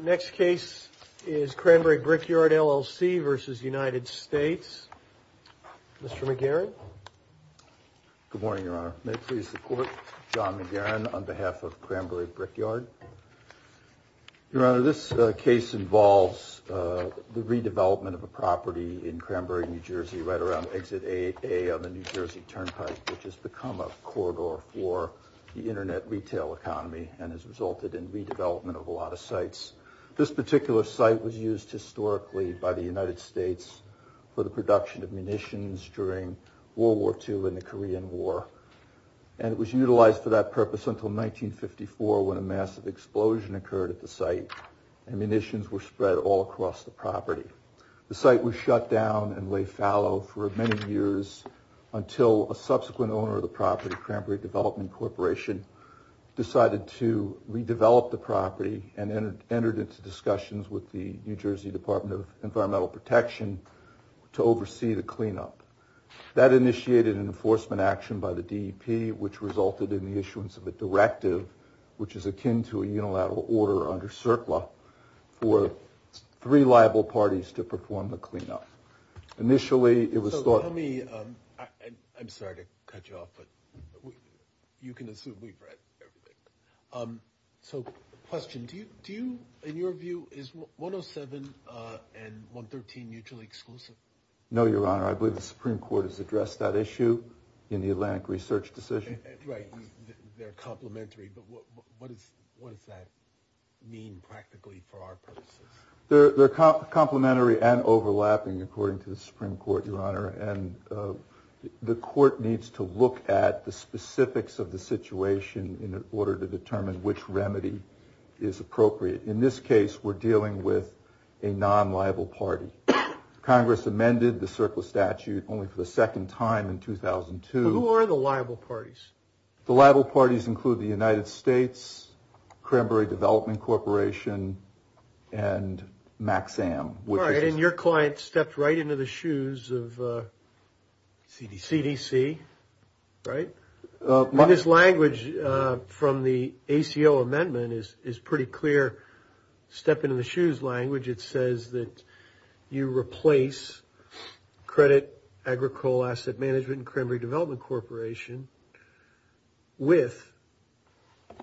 Next case is Cranbury Brickyard, LLC v. United States. Mr. McGarrett. Good morning, Your Honor. May it please the Court, John McGarrett on behalf of Cranbury Brickyard. Your Honor, this case involves the redevelopment of a property in Cranbury, New Jersey, right around exit 8A on the New Jersey Turnpike, which has become a corridor for the internet retail economy and has resulted in redevelopment of a lot of sites. This particular site was used historically by the United States for the production of munitions during World War II and the Korean War, and it was utilized for that purpose until 1954 when a massive explosion occurred at the site and munitions were spread all across the property. The site was shut down and lay fallow for many years until a subsequent owner of the property, Cranbury Development Corporation, decided to redevelop the property and entered into discussions with the New Jersey Department of Environmental Protection to oversee the cleanup. That initiated an enforcement action by the DEP, which resulted in the issuance of a directive, which is akin to a unilateral order under CERCLA, for three liable parties to perform the cleanup. Initially, it was thought... I'm sorry to cut you off, but you can assume we've read everything. So, question, do you, in your view, is 107 and 113 mutually exclusive? No, Your Honor, I believe the Supreme Court has addressed that issue in the Atlantic Research Decision. Right, they're complementary, but what does that mean practically for our purposes? They're complementary and overlapping, according to the Supreme Court, Your Honor, and the court needs to look at the specifics of the situation in order to determine which remedy is appropriate. In this case, we're dealing with a non-liable party. Congress amended the CERCLA statute only for the second time in 2002. Who are the liable parties? The liable parties include the United States, Cranberry Development Corporation, and MAXAM. All right, and your client stepped right into the shoes of CDC, right? This language from the ACO amendment is pretty clear, step into the shoes language. It says that you replace Credit Agricole Asset Management and Cranberry Development Corporation with,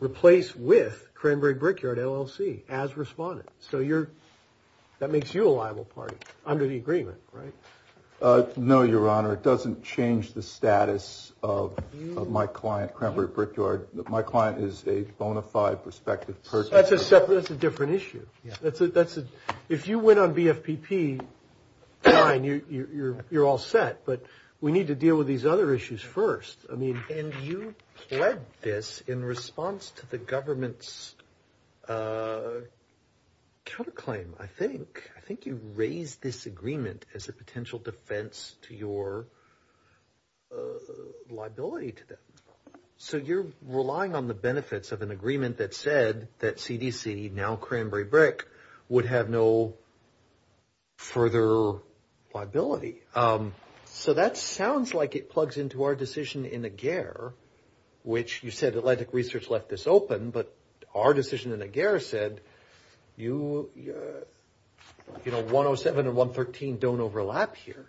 replace with Cranberry Brickyard LLC as respondents. So you're, that makes you a liable party under the agreement, right? No, Your Honor, it doesn't change the status of my client, Cranberry Brickyard. My client is a bona fide prospective person. That's a separate, that's a different issue. That's a, if you went on BFPP, fine, you're all set, but we need to deal with these other issues first. I mean, and you pled this in response to the government's counterclaim, I think. I think you raised this agreement as a potential defense to your liability to them. So you're relying on the benefits of an agreement that said that CDC, now Cranberry Brick, would have no further liability. So that sounds like it plugs into our decision in AGEAR, which you said Atlantic Research left this open, but our decision in AGEAR said you, you know, 107 and 113 don't overlap here,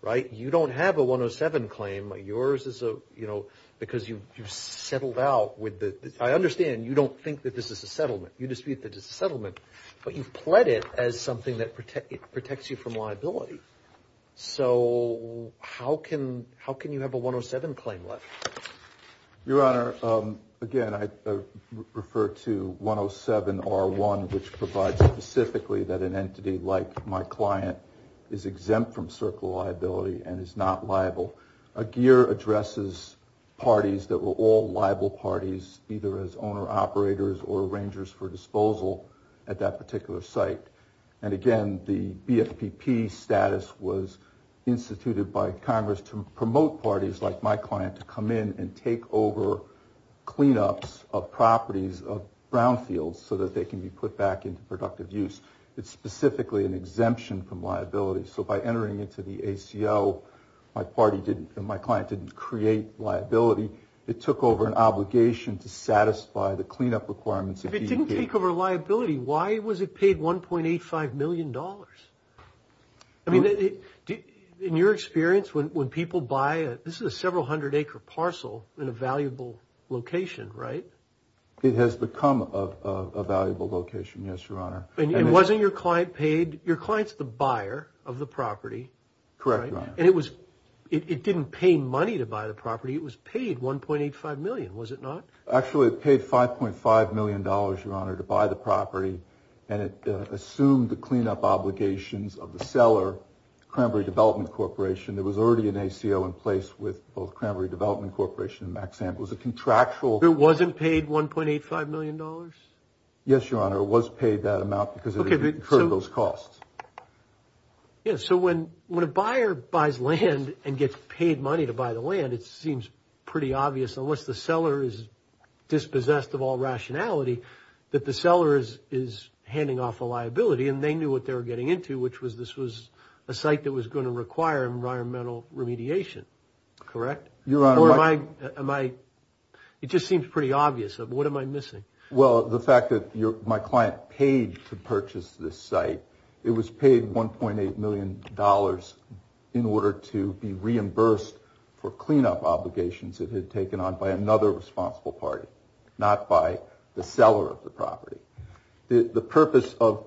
right? You don't have a 107 claim. Yours is a, you know, because you've settled out with the, I understand you don't think that this is a settlement. You dispute that it's a settlement, but you've pled it as something that protects you from liability. So how can, how can you have a 107 claim left? Your Honor, again, I refer to 107 R1, which provides specifically that an entity like my client is exempt from circle liability and is not liable. AGEAR addresses parties that were all liable parties, either as owner operators or arrangers for disposal at that particular site. And again, the BFPP status was instituted by Congress to promote parties like my client to come in and take over cleanups of properties of brownfields so that they can be put back into productive use. It's specifically an exemption from liability. So by entering into the ACL, my party didn't, my client didn't create liability. It took over an obligation to satisfy the cleanup requirements. If it didn't take over liability, why was it paid $1.85 million? I mean, in your experience, when people buy, this is a several hundred acre parcel in a valuable location, right? It has become a valuable location, yes, Your Honor. And wasn't your client paid? Your client's the buyer of the property. Correct, Your Honor. And it was, it didn't pay money to buy the property. It was paid $1.85 million, was it not? Actually, it paid $5.5 million, Your Honor, to buy the property. And it assumed the cleanup obligations of the seller, Cranberry Development Corporation. There was already an ACL in place with both Cranberry Development Corporation and Maxam. It was a contractual… It wasn't paid $1.85 million? Yes, Your Honor, it was paid that amount because it incurred those costs. Yeah, so when a buyer buys land and gets paid money to buy the land, it seems pretty obvious, unless the seller is dispossessed of all rationality, that the seller is handing off a liability and they knew what they were getting into, which was this was a site that was going to require environmental remediation, correct? Your Honor, I… Or am I, it just seems pretty obvious. What am I missing? Well, the fact that my client paid to purchase this site, it was paid $1.8 million in order to be reimbursed for cleanup obligations that had taken on by another responsible party, not by the seller of the property. The purpose of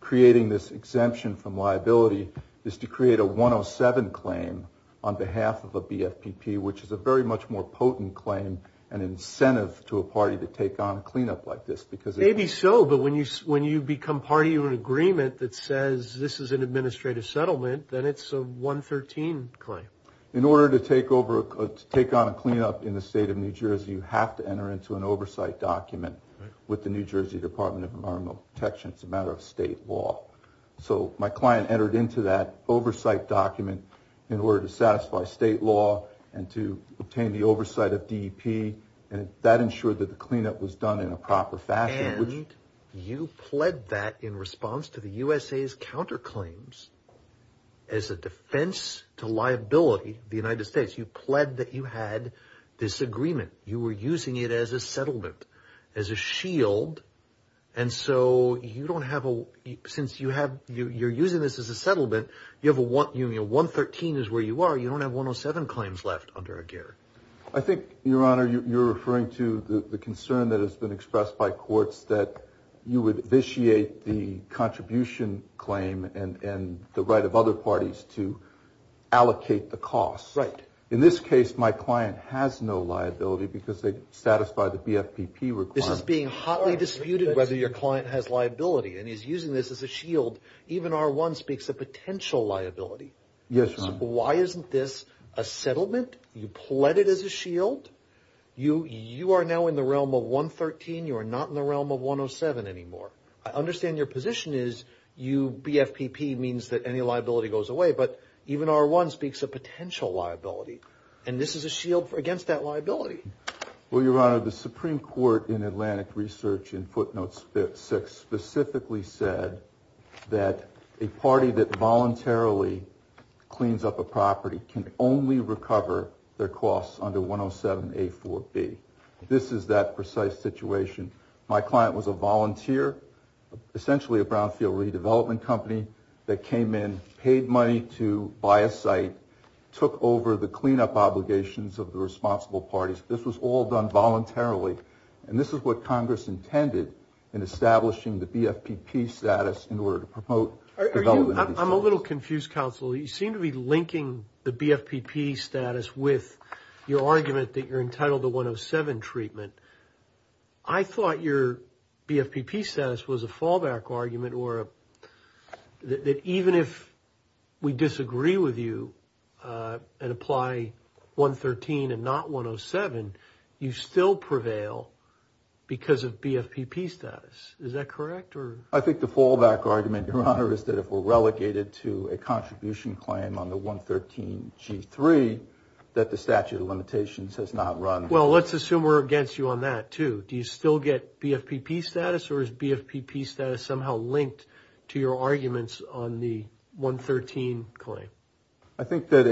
creating this exemption from liability is to create a 107 claim on behalf of a BFPP, which is a very much more potent claim and incentive to a party to take on cleanup like this because… If it's a settlement that says this is an administrative settlement, then it's a 113 claim. In order to take on a cleanup in the state of New Jersey, you have to enter into an oversight document with the New Jersey Department of Environmental Protection. It's a matter of state law. So my client entered into that oversight document in order to satisfy state law and to obtain the oversight of DEP, and that ensured that the cleanup was done in a proper fashion. And you pled that in response to the USA's counterclaims as a defense to liability, the United States. You pled that you had this agreement. You were using it as a settlement, as a shield. And so you don't have a… Since you're using this as a settlement, you have a 113 is where you are. You don't have 107 claims left under a guarantee. I think, Your Honor, you're referring to the concern that has been expressed by courts that you would vitiate the contribution claim and the right of other parties to allocate the costs. Right. In this case, my client has no liability because they satisfy the BFPP requirement. This is being hotly disputed whether your client has liability, and he's using this as a shield. Even R1 speaks of potential liability. Yes, Your Honor. Why isn't this a settlement? You pled it as a shield. You are now in the realm of 113. You are not in the realm of 107 anymore. I understand your position is you… BFPP means that any liability goes away, but even R1 speaks of potential liability, and this is a shield against that liability. Well, Your Honor, the Supreme Court in Atlantic Research in footnotes 6 specifically said that a party that voluntarily cleans up a property can only recover their costs under 107A4B. This is that precise situation. My client was a volunteer, essentially a brownfield redevelopment company, that came in, paid money to buy a site, took over the cleanup obligations of the responsible parties. This was all done voluntarily, and this is what Congress intended in establishing the BFPP status in order to promote development… I'm a little confused, counsel. You seem to be linking the BFPP status with your argument that you're entitled to 107 treatment. I thought your BFPP status was a fallback argument or that even if we disagree with you and apply 113 and not 107, you still prevail because of BFPP status. Is that correct? I think the fallback argument, Your Honor, is that if we're relegated to a contribution claim on the 113G3, that the statute of limitations has not run. Well, let's assume we're against you on that, too. Do you still get BFPP status, or is BFPP status somehow linked to your arguments on the 113 claim? I think that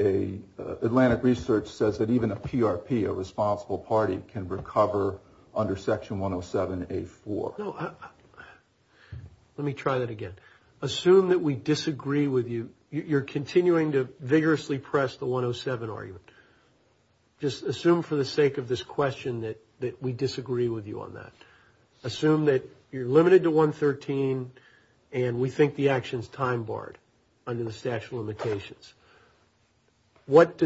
Atlantic Research says that even a PRP, a responsible party, can recover under Section 107A4. No, let me try that again. Assume that we disagree with you. You're continuing to vigorously press the 107 argument. Just assume for the sake of this question that we disagree with you on that. Assume that you're limited to 113, and we think the action's time-barred under the statute of limitations. But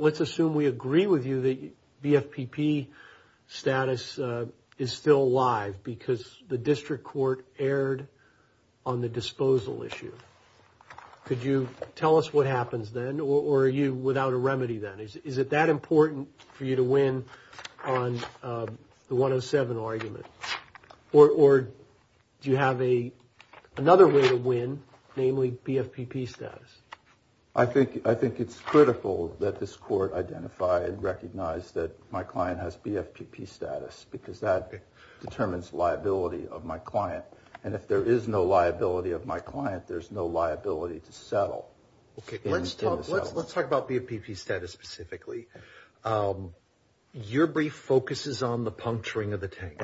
let's assume we agree with you that BFPP status is still alive because the district court erred on the disposal issue. Could you tell us what happens then, or are you without a remedy then? Is it that important for you to win on the 107 argument? Or do you have another way to win, namely BFPP status? I think it's critical that this court identify and recognize that my client has BFPP status, because that determines liability of my client. And if there is no liability of my client, there's no liability to settle. Let's talk about BFPP status specifically. Your brief focuses on the puncturing of the tank.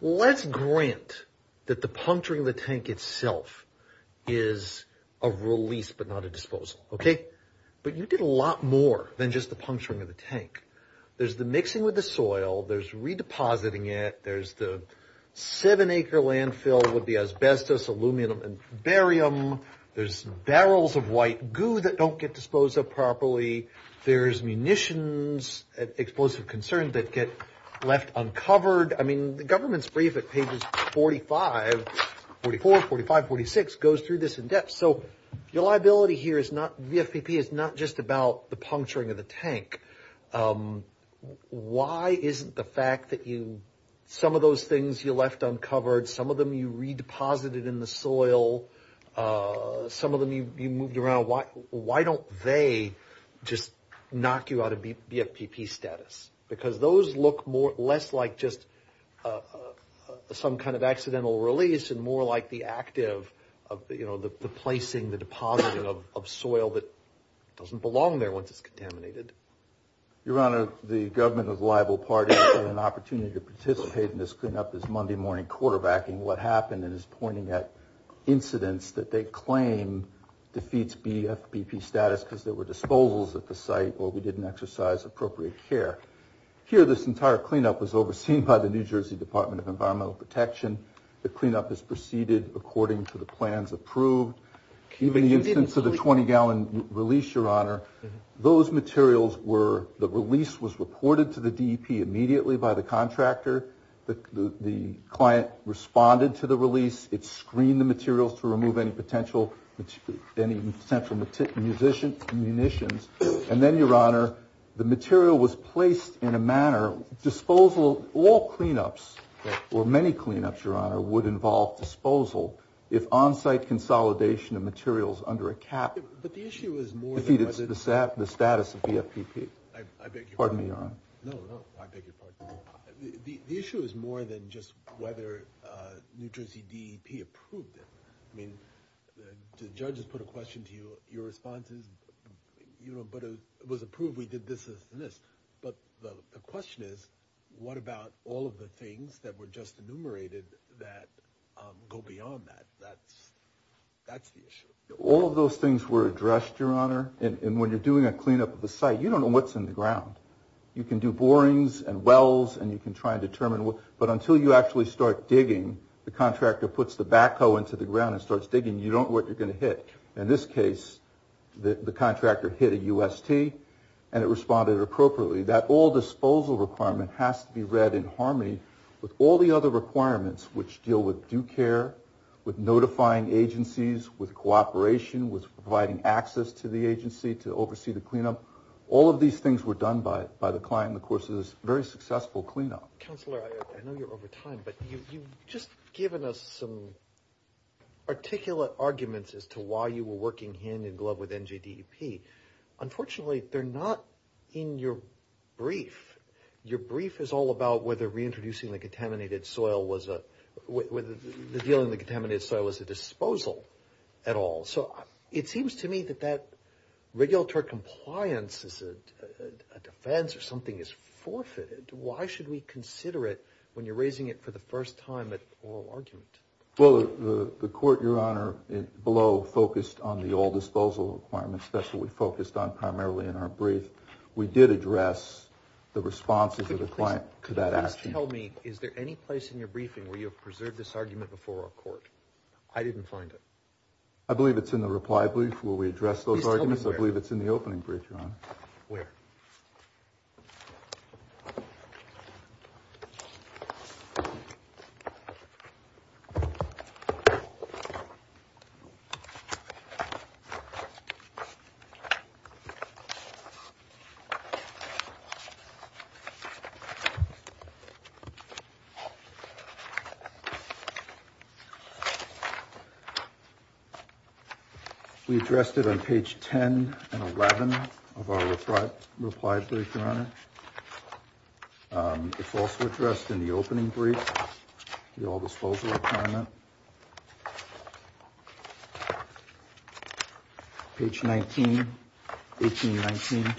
Let's grant that the puncturing of the tank itself is a release but not a disposal. But you did a lot more than just the puncturing of the tank. There's the mixing with the soil. There's redepositing it. There's the seven-acre landfill with the asbestos, aluminum, and barium. There's barrels of white goo that don't get disposed of properly. There's munitions, explosive concerns that get left uncovered. I mean, the government's brief at pages 45, 44, 45, 46 goes through this in depth. So your liability here is not – BFPP is not just about the puncturing of the tank. Why isn't the fact that you – some of those things you left uncovered, some of them you redeposited in the soil, some of them you moved around, why don't they just knock you out of BFPP status? Because those look more – less like just some kind of accidental release and more like the active – you know, the placing, the depositing of soil that doesn't belong there once it's contaminated. Your Honor, the government of the liable parties had an opportunity to participate in this cleanup this Monday morning quarterbacking what happened and is pointing at incidents that they claim defeats BFPP status because there were disposals at the site or we didn't exercise appropriate care. Here, this entire cleanup was overseen by the New Jersey Department of Environmental Protection. The cleanup is preceded according to the plans approved. Even the instance of the 20-gallon release, Your Honor, those materials were – delivered to the DEP immediately by the contractor. The client responded to the release. It screened the materials to remove any potential – any potential munitions. And then, Your Honor, the material was placed in a manner – disposal – all cleanups or many cleanups, Your Honor, would involve disposal if on-site consolidation of materials under a cap defeated the status of BFPP. Pardon me, Your Honor. No, no. I beg your pardon. The issue is more than just whether New Jersey DEP approved it. I mean, the judge has put a question to you. Your response is, you know, but it was approved. We did this and this. But the question is, what about all of the things that were just enumerated that go beyond that? That's the issue. All of those things were addressed, Your Honor. And when you're doing a cleanup of the site, you don't know what's in the ground. You can do borings and wells, and you can try and determine what – but until you actually start digging, the contractor puts the backhoe into the ground and starts digging, you don't know what you're going to hit. In this case, the contractor hit a UST, and it responded appropriately. That all-disposal requirement has to be read in harmony with all the other requirements which deal with due care, with notifying agencies, with cooperation, with providing access to the agency to oversee the cleanup. All of these things were done by the client in the course of this very successful cleanup. Counselor, I know you're over time, but you've just given us some articulate arguments as to why you were working hand-in-glove with NJDEP. Unfortunately, they're not in your brief. Your brief is all about whether reintroducing the contaminated soil was a – whether the deal in the contaminated soil was a disposal at all. So it seems to me that that regulatory compliance is a defense or something is forfeited. Why should we consider it when you're raising it for the first time at oral argument? Well, the court, Your Honor, below, focused on the all-disposal requirements. That's what we focused on primarily in our brief. We did address the responses of the client to that action. Could you please tell me, is there any place in your briefing where you have preserved this argument before our court? I didn't find it. I believe it's in the reply brief where we address those arguments. Please tell me where. I believe it's in the opening brief, Your Honor. Where? Okay. We addressed it on page 10 and 11 of our reply brief, Your Honor. It's also addressed in the opening brief, the all-disposal requirement. Page 19, 18 and 19.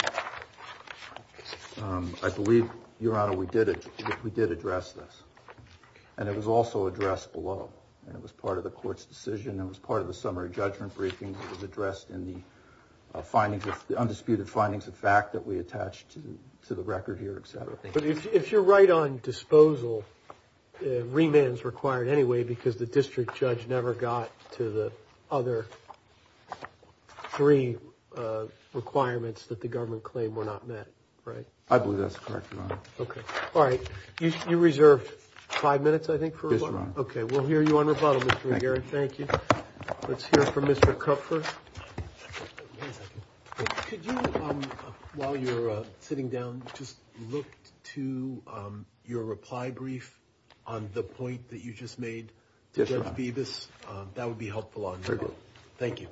I believe, Your Honor, we did address this. And it was also addressed below. It was part of the court's decision. It was part of the summary judgment briefing. It was addressed in the undisputed findings of fact that we attached to the record here, et cetera. But if you're right on disposal, remand is required anyway because the district judge never got to the other three requirements that the government claimed were not met, right? I believe that's correct, Your Honor. Okay. All right. You reserved five minutes, I think, for rebuttal? Yes, Your Honor. Okay. We'll hear you on rebuttal, Mr. McGarrett. Thank you. Let's hear from Mr. Kupfer. One second. Could you, while you're sitting down, just look to your reply brief on the point that you just made to Judge Bevis? That would be helpful on rebuttal. Thank you.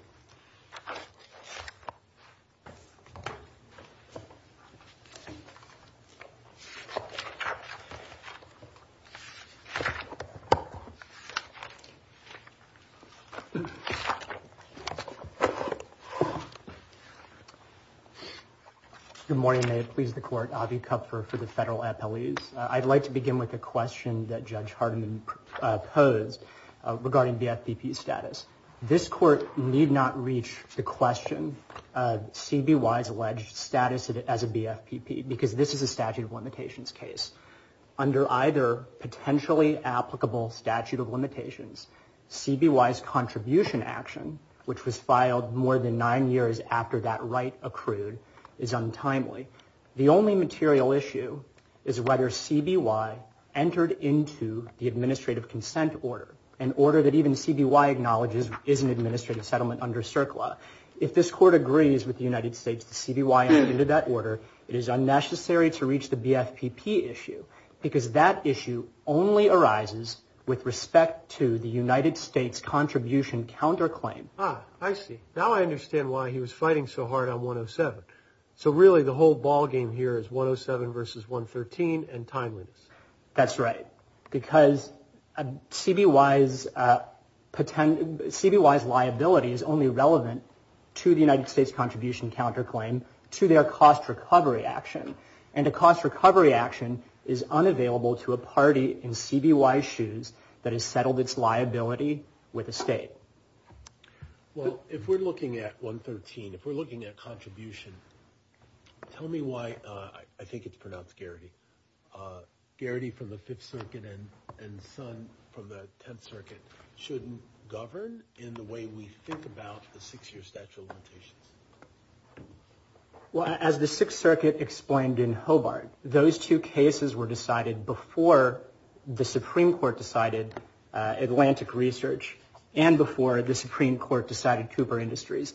Good morning. May it please the Court. Avi Kupfer for the Federal Appellees. I'd like to begin with a question that Judge Hardiman posed regarding BFPP status. This Court need not reach the question CBY's alleged status as a BFPP because this is a statute of limitations case. Under either potentially applicable statute of limitations, CBY's contribution action, which was filed more than nine years after that right accrued, is untimely. The only material issue is whether CBY entered into the administrative consent order, an order that even CBY acknowledges is an administrative settlement under CERCLA. If this Court agrees with the United States that CBY entered into that order, it is unnecessary to reach the BFPP issue because that issue only arises with respect to the United States contribution counterclaim. Ah, I see. Now I understand why he was fighting so hard on 107. So really the whole ballgame here is 107 versus 113 and timeliness. That's right. Because CBY's liability is only relevant to the United States contribution counterclaim to their cost recovery action. And a cost recovery action is unavailable to a party in CBY's shoes that has settled its liability with the state. Well, if we're looking at 113, if we're looking at contribution, tell me why I think it's pronounced Garrity. Garrity from the Fifth Circuit and Sun from the Tenth Circuit shouldn't govern in the way we think about the six-year statute of limitations. Well, as the Sixth Circuit explained in Hobart, those two cases were decided before the Supreme Court decided Atlantic Research and before the Supreme Court decided Cooper Industries.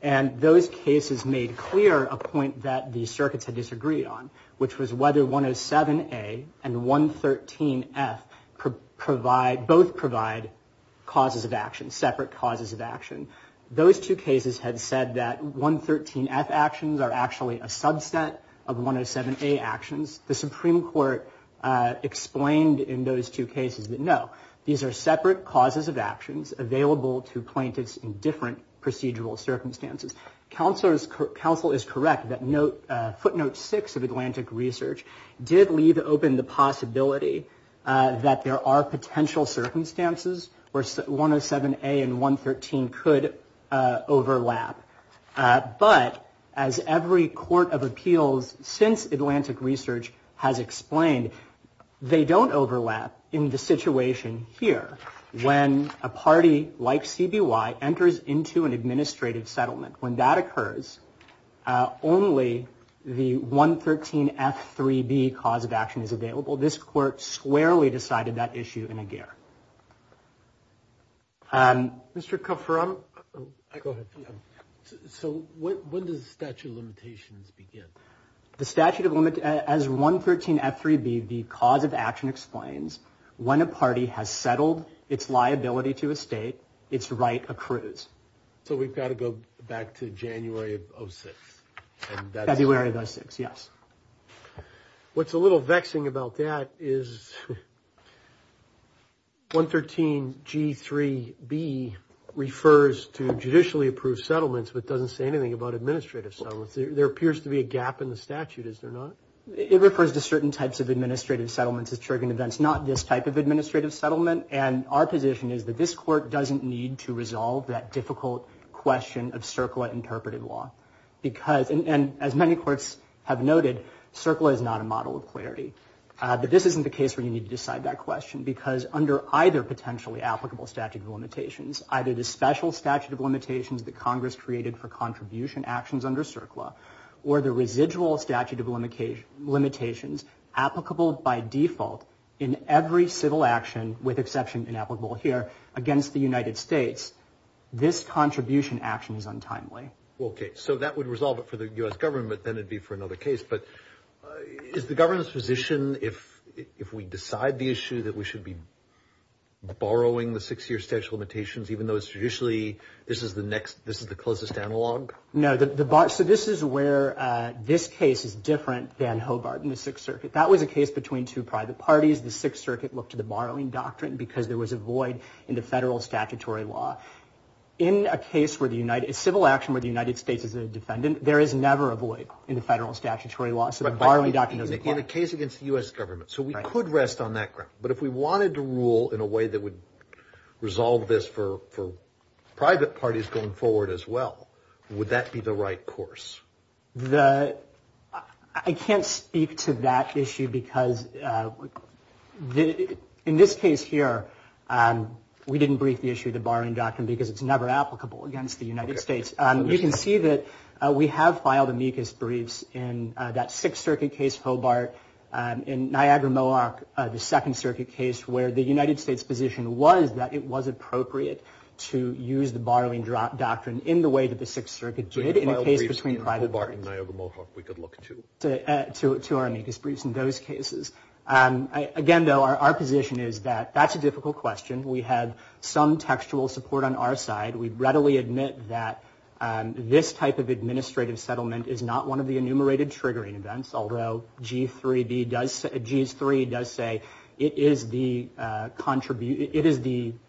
And those cases made clear a point that the circuits had disagreed on, which was whether 107A and 113F both provide separate causes of action. Those two cases had said that 113F actions are actually a subset of 107A actions. The Supreme Court explained in those two cases that, no, these are separate causes of actions available to plaintiffs in different procedural circumstances. Counsel is correct that footnote six of Atlantic Research did leave open the possibility that there are potential circumstances where 107A and 113 could overlap. But as every court of appeals since Atlantic Research has explained, they don't overlap in the situation here. When a party like CBY enters into an administrative settlement, when that occurs, only the 113F3B cause of action is available. This court squarely decided that issue in a gear. Mr. Kupfer, I'm. Go ahead. So when does the statute of limitations begin? The statute of limit as 113F3B, the cause of action, explains when a party has settled its liability to a state, its right accrues. So we've got to go back to January of 06. February of 06, yes. What's a little vexing about that is 113G3B refers to judicially approved settlements but doesn't say anything about administrative settlements. There appears to be a gap in the statute. Is there not? It refers to certain types of administrative settlements as triggering events, not this type of administrative settlement. And our position is that this court doesn't need to resolve that difficult question of CERCLA interpreted law because, and as many courts have noted, CERCLA is not a model of clarity. But this isn't the case where you need to decide that question because under either potentially applicable statute of limitations, either the special statute of limitations that Congress created for contribution actions under CERCLA or the residual statute of limitations applicable by default in every civil action, with exception inapplicable here, against the United States, this contribution action is untimely. Okay. So that would resolve it for the U.S. government. Then it would be for another case. But is the government's position if we decide the issue that we should be borrowing the six-year statute of limitations, even though it's traditionally this is the closest analog? No. So this is where this case is different than Hobart in the Sixth Circuit. That was a case between two private parties. The Sixth Circuit looked to the borrowing doctrine because there was a void in the federal statutory law. In a civil action where the United States is a defendant, there is never a void in the federal statutory law. So the borrowing doctrine doesn't apply. In a case against the U.S. government. So we could rest on that ground. But if we wanted to rule in a way that would resolve this for private parties going forward as well, would that be the right course? I can't speak to that issue because in this case here, we didn't brief the issue of the borrowing doctrine because it's never applicable against the United States. You can see that we have filed amicus briefs in that Sixth Circuit case, Hobart, in Niagara-Moac, the Second Circuit case where the United States position was that it was appropriate to use the borrowing doctrine in the way that the Sixth Circuit did in a case between private parties. To our amicus briefs in those cases. Again, though, our position is that that's a difficult question. We had some textual support on our side. We readily admit that this type of administrative settlement is not one of the enumerated triggering events, although G3 does say it is the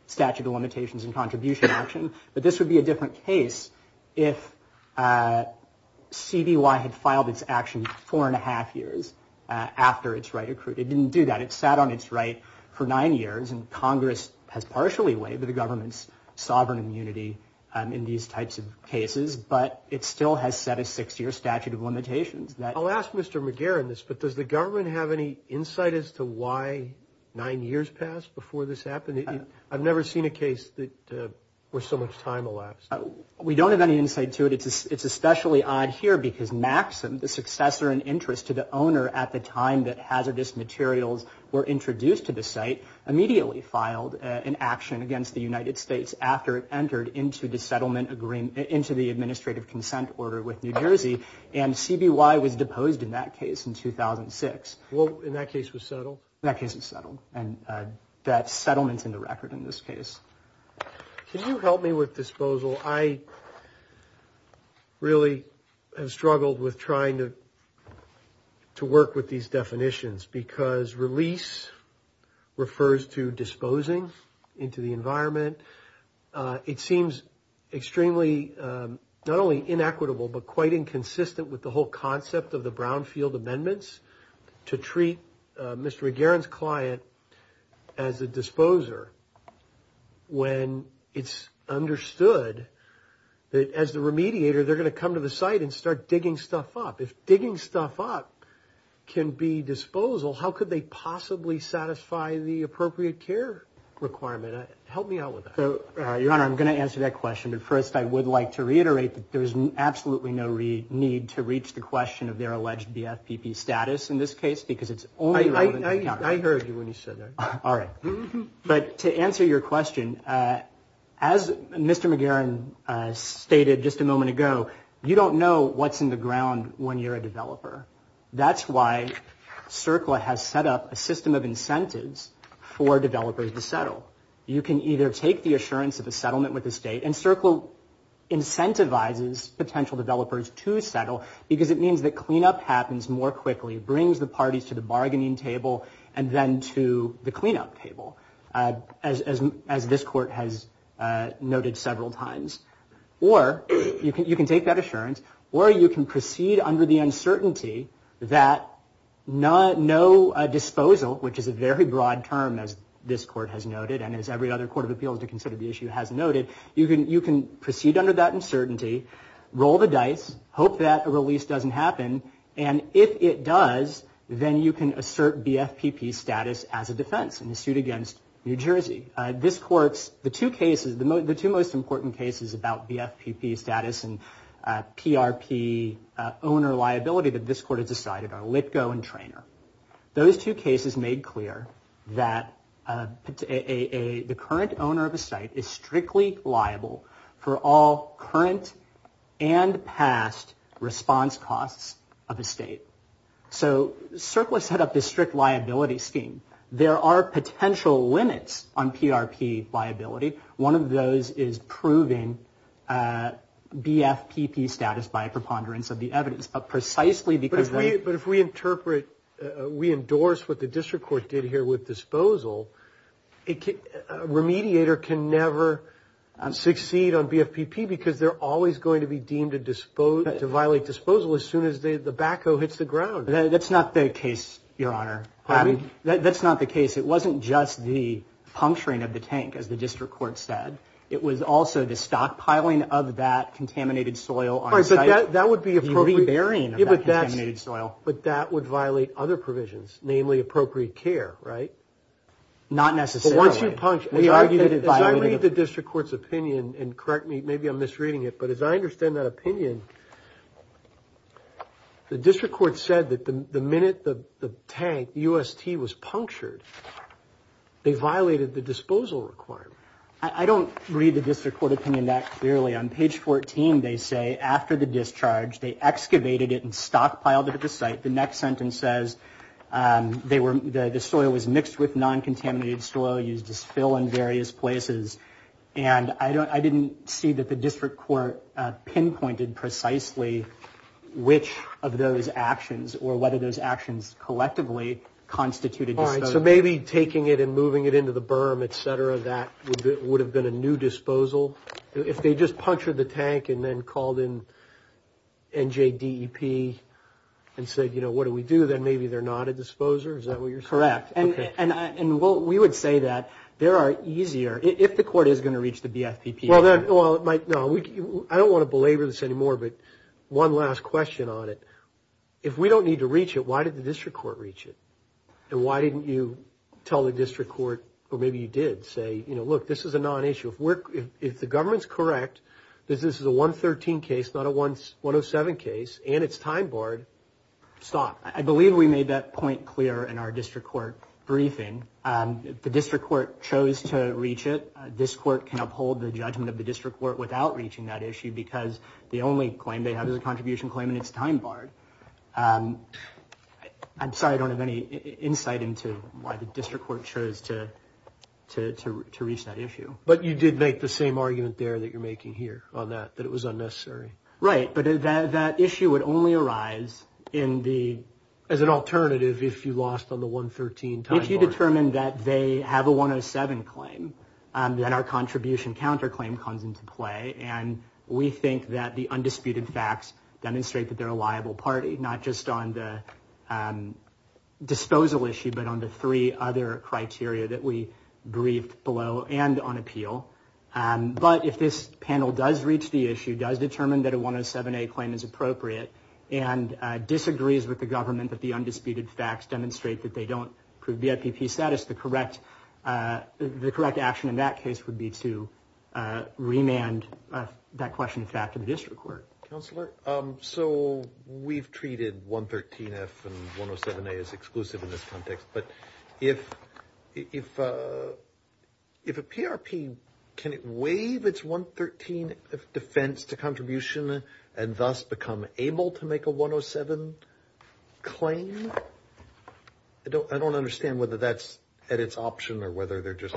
statute of limitations and contribution action. But this would be a different case if CDY had filed its action four and a half years after its right accrued. It didn't do that. It sat on its right for nine years, and Congress has partially waived the government's sovereign immunity in these types of cases. But it still has set a six-year statute of limitations. I'll ask Mr. McGarrett this, but does the government have any insight as to why nine years passed before this happened? I've never seen a case where so much time elapsed. We don't have any insight to it. It's especially odd here because Maxim, the successor in interest to the owner at the time that hazardous materials were introduced to the site, immediately filed an action against the United States after it entered into the administrative consent order with New Jersey, and CBY was deposed in that case in 2006. Well, and that case was settled? That case was settled, and that settlement's in the record in this case. Can you help me with disposal? I really have struggled with trying to work with these definitions because release refers to disposing into the environment. It seems extremely not only inequitable but quite inconsistent with the whole concept of the Brownfield Amendments to treat Mr. McGarrett's client as a disposer when it's understood that as the remediator, they're going to come to the site and start digging stuff up. If digging stuff up can be disposal, how could they possibly satisfy the appropriate care requirement? Help me out with that. Your Honor, I'm going to answer that question, but first I would like to reiterate that there's absolutely no need to reach the question of their alleged BFPP status in this case because it's only relevant to the encounter. I heard you when you said that. All right. But to answer your question, as Mr. McGarrett stated just a moment ago, you don't know what's in the ground when you're a developer. That's why CERCLA has set up a system of incentives for developers to settle. You can either take the assurance of a settlement with the state, and CERCLA incentivizes potential developers to settle because it means that cleanup happens more quickly, brings the parties to the bargaining table and then to the cleanup table, as this Court has noted several times. Or you can take that assurance, or you can proceed under the uncertainty that no disposal, which is a very broad term, as this Court has noted and as every other court of appeals to consider the issue has noted, you can proceed under that uncertainty, roll the dice, hope that a release doesn't happen, and if it does, then you can assert BFPP status as a defense in a suit against New Jersey. This Court's, the two cases, the two most important cases about BFPP status and PRP owner liability that this Court has decided are Litgo and Traynor. Those two cases made clear that the current owner of a site is strictly liable for all current and past response costs of a state. So CERCLA set up this strict liability scheme. There are potential limits on PRP liability. One of those is proving BFPP status by a preponderance of the evidence. But precisely because they... But if we interpret, we endorse what the District Court did here with disposal, a remediator can never succeed on BFPP because they're always going to be deemed to violate disposal as soon as the backhoe hits the ground. That's not the case, Your Honor. That's not the case. It wasn't just the puncturing of the tank, as the District Court said. It was also the stockpiling of that contaminated soil on site. That would be appropriate. The reburying of that contaminated soil. But that would violate other provisions, namely appropriate care, right? Not necessarily. As I read the District Court's opinion, and correct me, maybe I'm misreading it, but as I understand that opinion, the District Court said that the minute the tank, UST, was punctured, they violated the disposal requirement. I don't read the District Court opinion that clearly. On page 14, they say, after the discharge, they excavated it and stockpiled it at the site. The next sentence says the soil was mixed with non-contaminated soil, used as fill in various places. And I didn't see that the District Court pinpointed precisely which of those actions or whether those actions collectively constituted disposal. All right. So maybe taking it and moving it into the berm, et cetera, that would have been a new disposal? If they just punctured the tank and then called in NJDEP and said, you know, what do we do, then maybe they're not a disposer? Is that what you're saying? Correct. And we would say that. There are easier, if the court is going to reach the BFPP, Well, it might, no, I don't want to belabor this anymore, but one last question on it. If we don't need to reach it, why did the District Court reach it? And why didn't you tell the District Court, or maybe you did, say, you know, look, this is a non-issue. If the government's correct, this is a 113 case, not a 107 case, and it's time-barred, stop. I believe we made that point clear in our District Court briefing. The District Court chose to reach it. This court can uphold the judgment of the District Court without reaching that issue because the only claim they have is a contribution claim, and it's time-barred. I'm sorry I don't have any insight into why the District Court chose to reach that issue. But you did make the same argument there that you're making here on that, that it was unnecessary. Right, but that issue would only arise as an alternative if you lost on the 113 time-barred. If you determine that they have a 107 claim, then our contribution counterclaim comes into play, and we think that the undisputed facts demonstrate that they're a liable party, not just on the disposal issue but on the three other criteria that we briefed below and on appeal. But if this panel does reach the issue, does determine that a 107A claim is appropriate, and disagrees with the government that the undisputed facts demonstrate that they don't prove VIPP status, the correct action in that case would be to remand that question of fact to the District Court. Counselor, so we've treated 113F and 107A as exclusive in this context, but if a PRP can waive its 113 defense to contribution and thus become able to make a 107 claim, I don't understand whether that's at its option or whether they're just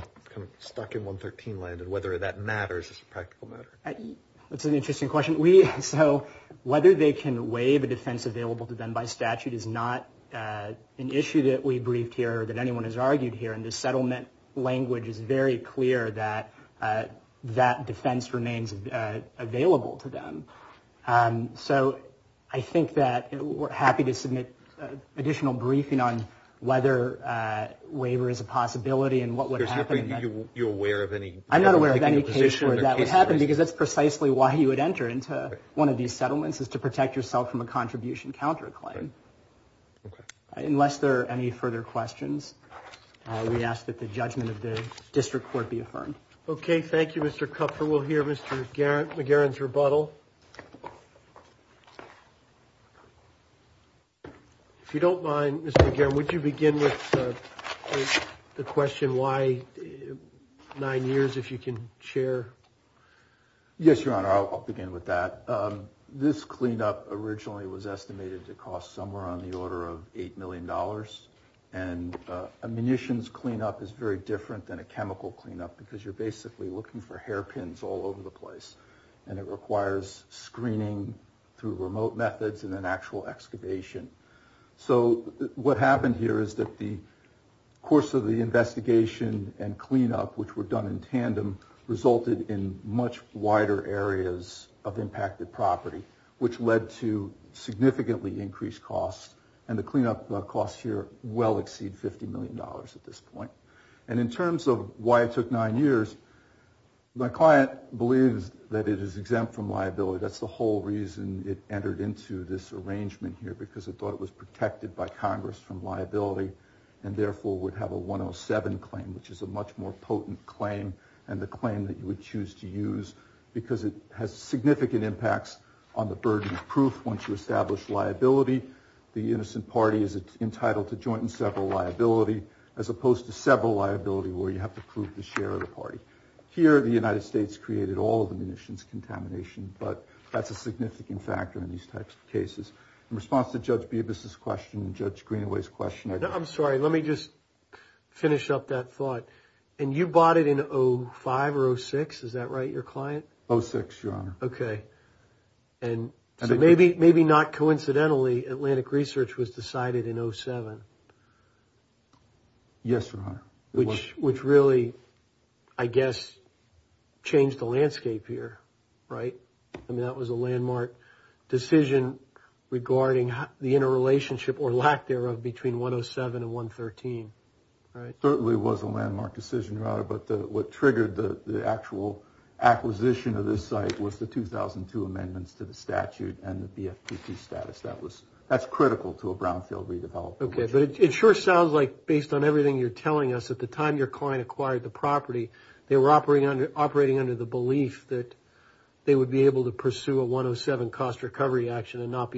stuck in 113 land, and whether that matters as a practical matter. That's an interesting question. So whether they can waive a defense available to them by statute is not an issue that we briefed here or that anyone has argued here, and the settlement language is very clear that that defense remains available to them. So I think that we're happy to submit additional briefing on whether waiver is a possibility and what would happen. You're aware of any? I'm not aware of any case where that would happen, because that's precisely why you would enter into one of these settlements, is to protect yourself from a contribution counterclaim. Unless there are any further questions, we ask that the judgment of the District Court be affirmed. Okay. Thank you, Mr. Kupfer. We'll hear Mr. McGarren's rebuttal. If you don't mind, Mr. McGarren, would you begin with the question, why nine years, if you can share? Yes, Your Honor, I'll begin with that. This cleanup originally was estimated to cost somewhere on the order of $8 million, and a munitions cleanup is very different than a chemical cleanup, because you're basically looking for hairpins all over the place, and it requires screening through remote methods and then actual excavation. So what happened here is that the course of the investigation and cleanup, which were done in tandem, resulted in much wider areas of impacted property, which led to significantly increased costs, and the cleanup costs here well exceed $50 million at this point. And in terms of why it took nine years, my client believes that it is exempt from liability. That's the whole reason it entered into this arrangement here, because it thought it was protected by Congress from liability, and therefore would have a 107 claim, which is a much more potent claim, and the claim that you would choose to use, because it has significant impacts on the burden of proof once you establish liability. The innocent party is entitled to joint and several liability, as opposed to several liability where you have to prove the share of the party. Here, the United States created all of the munitions contamination, but that's a significant factor in these types of cases. In response to Judge Bibas's question and Judge Greenaway's question. I'm sorry. Let me just finish up that thought. And you bought it in 05 or 06? Is that right, your client? 06, Your Honor. Okay. Maybe not coincidentally, Atlantic Research was decided in 07. Yes, Your Honor. Which really, I guess, changed the landscape here, right? I mean, that was a landmark decision regarding the interrelationship or lack thereof between 107 and 113, right? It certainly was a landmark decision, Your Honor, but what triggered the actual acquisition of this site was the 2002 amendments to the statute and the BFPP status. That's critical to a brownfield redevelopment. Okay. But it sure sounds like, based on everything you're telling us, at the time your client acquired the property, they were operating under the belief that they would be able to pursue a 107 cost recovery action Correct,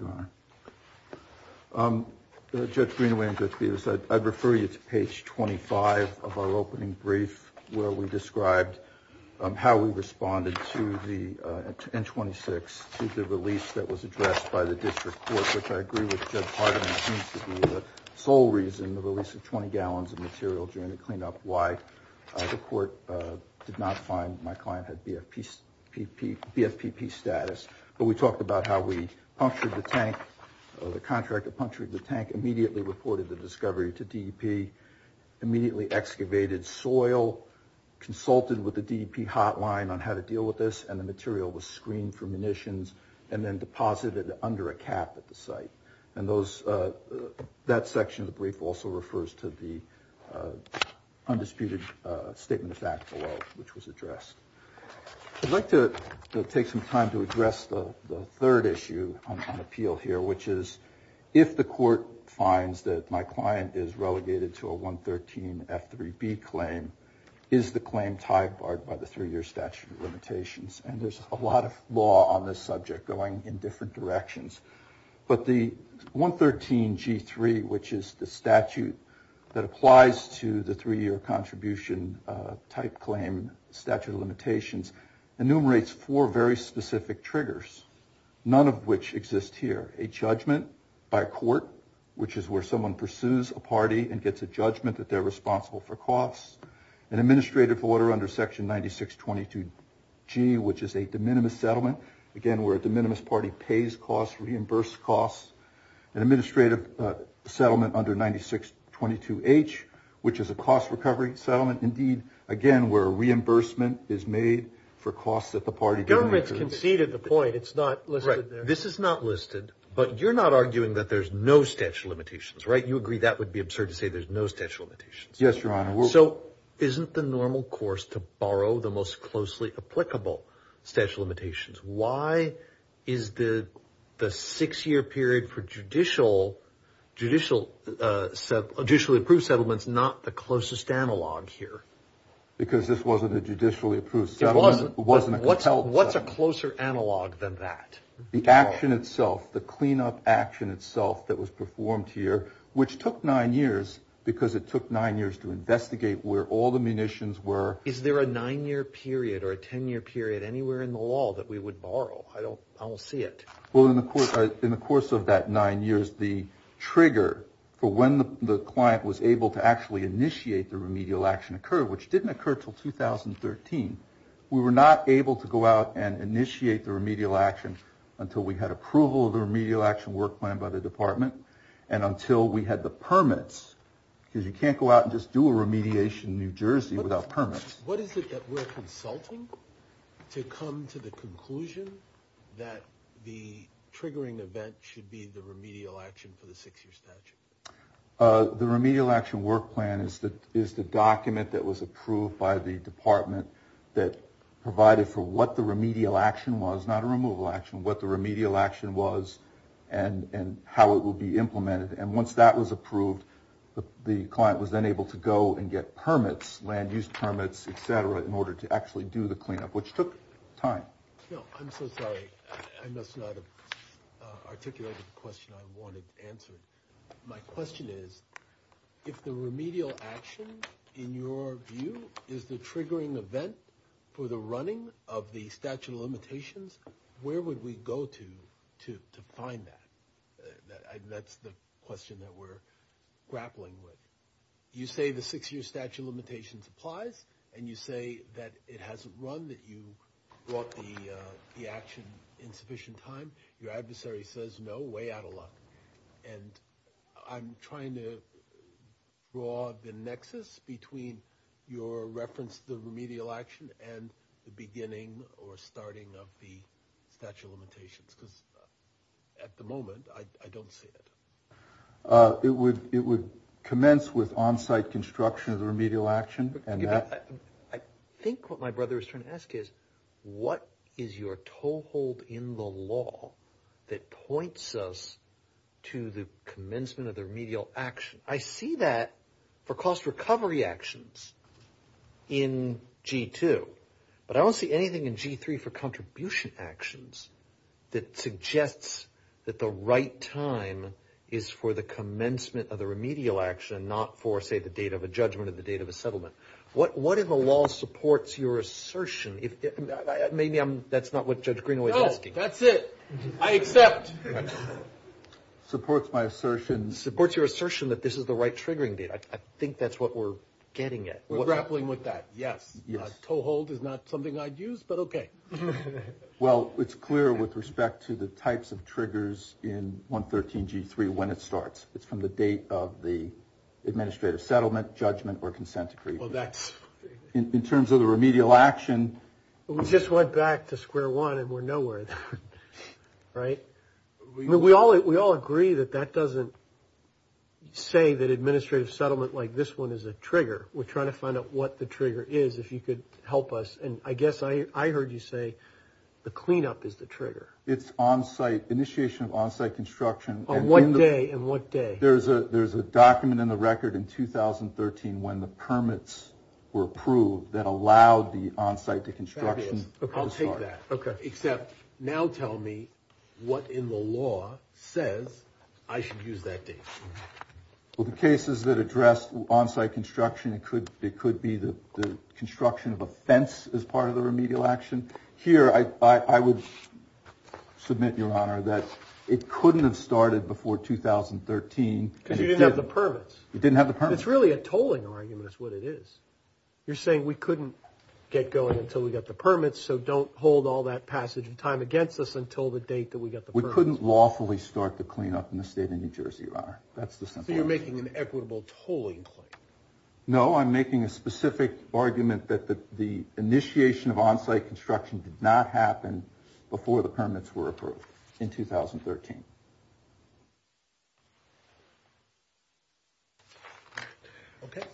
Your Honor. Judge Greenaway and Judge Bevis, I'd refer you to page 25 of our opening brief, where we described how we responded to the N26, to the release that was addressed by the district court, which I agree with Judge Hardiman, seems to be the sole reason the release of 20 gallons of material during the cleanup, why the court did not find my client had BFPP status. But we talked about how we punctured the tank, the contractor punctured the tank, immediately reported the discovery to DEP, immediately excavated soil, consulted with the DEP hotline on how to deal with this, and the material was screened for munitions and then deposited under a cap at the site. And that section of the brief also refers to the undisputed statement of fact below, which was addressed. I'd like to take some time to address the third issue on appeal here, which is if the court finds that my client is relegated to a 113 F3B claim, is the claim tied by the three-year statute of limitations? And there's a lot of law on this subject going in different directions. But the 113 G3, which is the statute that applies to the three-year contribution type claim, statute of limitations, enumerates four very specific triggers, none of which exist here. A judgment by court, which is where someone pursues a party and gets a judgment that they're responsible for costs. An administrative order under section 9622G, which is a de minimis settlement, again, where a de minimis party pays costs, reimburses costs. An administrative settlement under 9622H, which is a cost recovery settlement, indeed, again, where reimbursement is made for costs that the party can make. The government's conceded the point. It's not listed there. Right. This is not listed. But you're not arguing that there's no statute of limitations, right? You agree that would be absurd to say there's no statute of limitations. Yes, Your Honor. So isn't the normal course to borrow the most closely applicable statute of limitations? Why is the six-year period for judicially approved settlements not the closest analog here? Because this wasn't a judicially approved settlement. It wasn't. What's a closer analog than that? The action itself, the cleanup action itself that was performed here, which took nine years because it took nine years to investigate where all the munitions were. Is there a nine-year period or a ten-year period anywhere in the law that we would borrow? I don't see it. Well, in the course of that nine years, the trigger for when the client was able to actually initiate the remedial action occurred, which didn't occur until 2013. We were not able to go out and initiate the remedial action until we had approval of the remedial action work plan by the department and until we had the permits, because you can't go out and just do a remediation in New Jersey without permits. What is it that we're consulting to come to the conclusion that the triggering event should be the remedial action for the six-year statute? The remedial action work plan is the document that was approved by the department that provided for what the remedial action was, not a removal action, what the remedial action was and how it will be implemented. And once that was approved, the client was then able to go and get permits, land-use permits, et cetera, in order to actually do the cleanup, which took time. I'm so sorry. I must not have articulated the question I wanted answered. My question is, if the remedial action, in your view, is the triggering event for the running of the statute of limitations, where would we go to to find that? That's the question that we're grappling with. You say the six-year statute of limitations applies, and you say that it hasn't run, that you brought the action in sufficient time. Your adversary says no, way out of luck. And I'm trying to draw the nexus between your reference to the remedial action and the beginning or starting of the statute of limitations, because at the moment I don't see it. It would commence with on-site construction of the remedial action. I think what my brother is trying to ask is, what is your toehold in the law that points us to the commencement of the remedial action? I see that for cost recovery actions in G2, but I don't see anything in G3 for contribution actions that suggests that the right time is for the commencement of the remedial action, not for, say, the date of a judgment or the date of a settlement. What in the law supports your assertion? Maybe that's not what Judge Greenaway is asking. No, that's it. I accept. Supports my assertion. Supports your assertion that this is the right triggering date. I think that's what we're getting at. We're grappling with that, yes. A toehold is not something I'd use, but okay. Well, it's clear with respect to the types of triggers in 113 G3 when it starts. It's from the date of the administrative settlement, judgment, or consent decree. In terms of the remedial action. We just went back to square one and we're nowhere, right? We all agree that that doesn't say that administrative settlement like this one is a trigger. We're trying to find out what the trigger is, if you could help us. And I guess I heard you say the cleanup is the trigger. It's on-site, initiation of on-site construction. On what day and what day? There's a document in the record in 2013 when the permits were approved that allowed the on-site construction to start. I'll take that, except now tell me what in the law says I should use that date. Well, the cases that address on-site construction, it could be the construction of a fence as part of the remedial action. Here, I would submit, Your Honor, that it couldn't have started before 2013. Because you didn't have the permits. You didn't have the permits. It's really a tolling argument is what it is. You're saying we couldn't get going until we got the permits, so don't hold all that passage of time against us until the date that we got the permits. We couldn't lawfully start the cleanup in the state of New Jersey, Your Honor. That's the simple answer. So you're making an equitable tolling claim. No, I'm making a specific argument that the initiation of on-site construction did not happen before the permits were approved in 2013.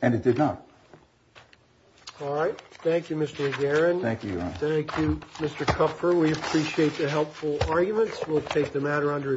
And it did not. All right. Thank you, Mr. McGarren. Thank you, Your Honor. Thank you, Mr. Kupfer. We appreciate the helpful arguments. We'll take the matter under review.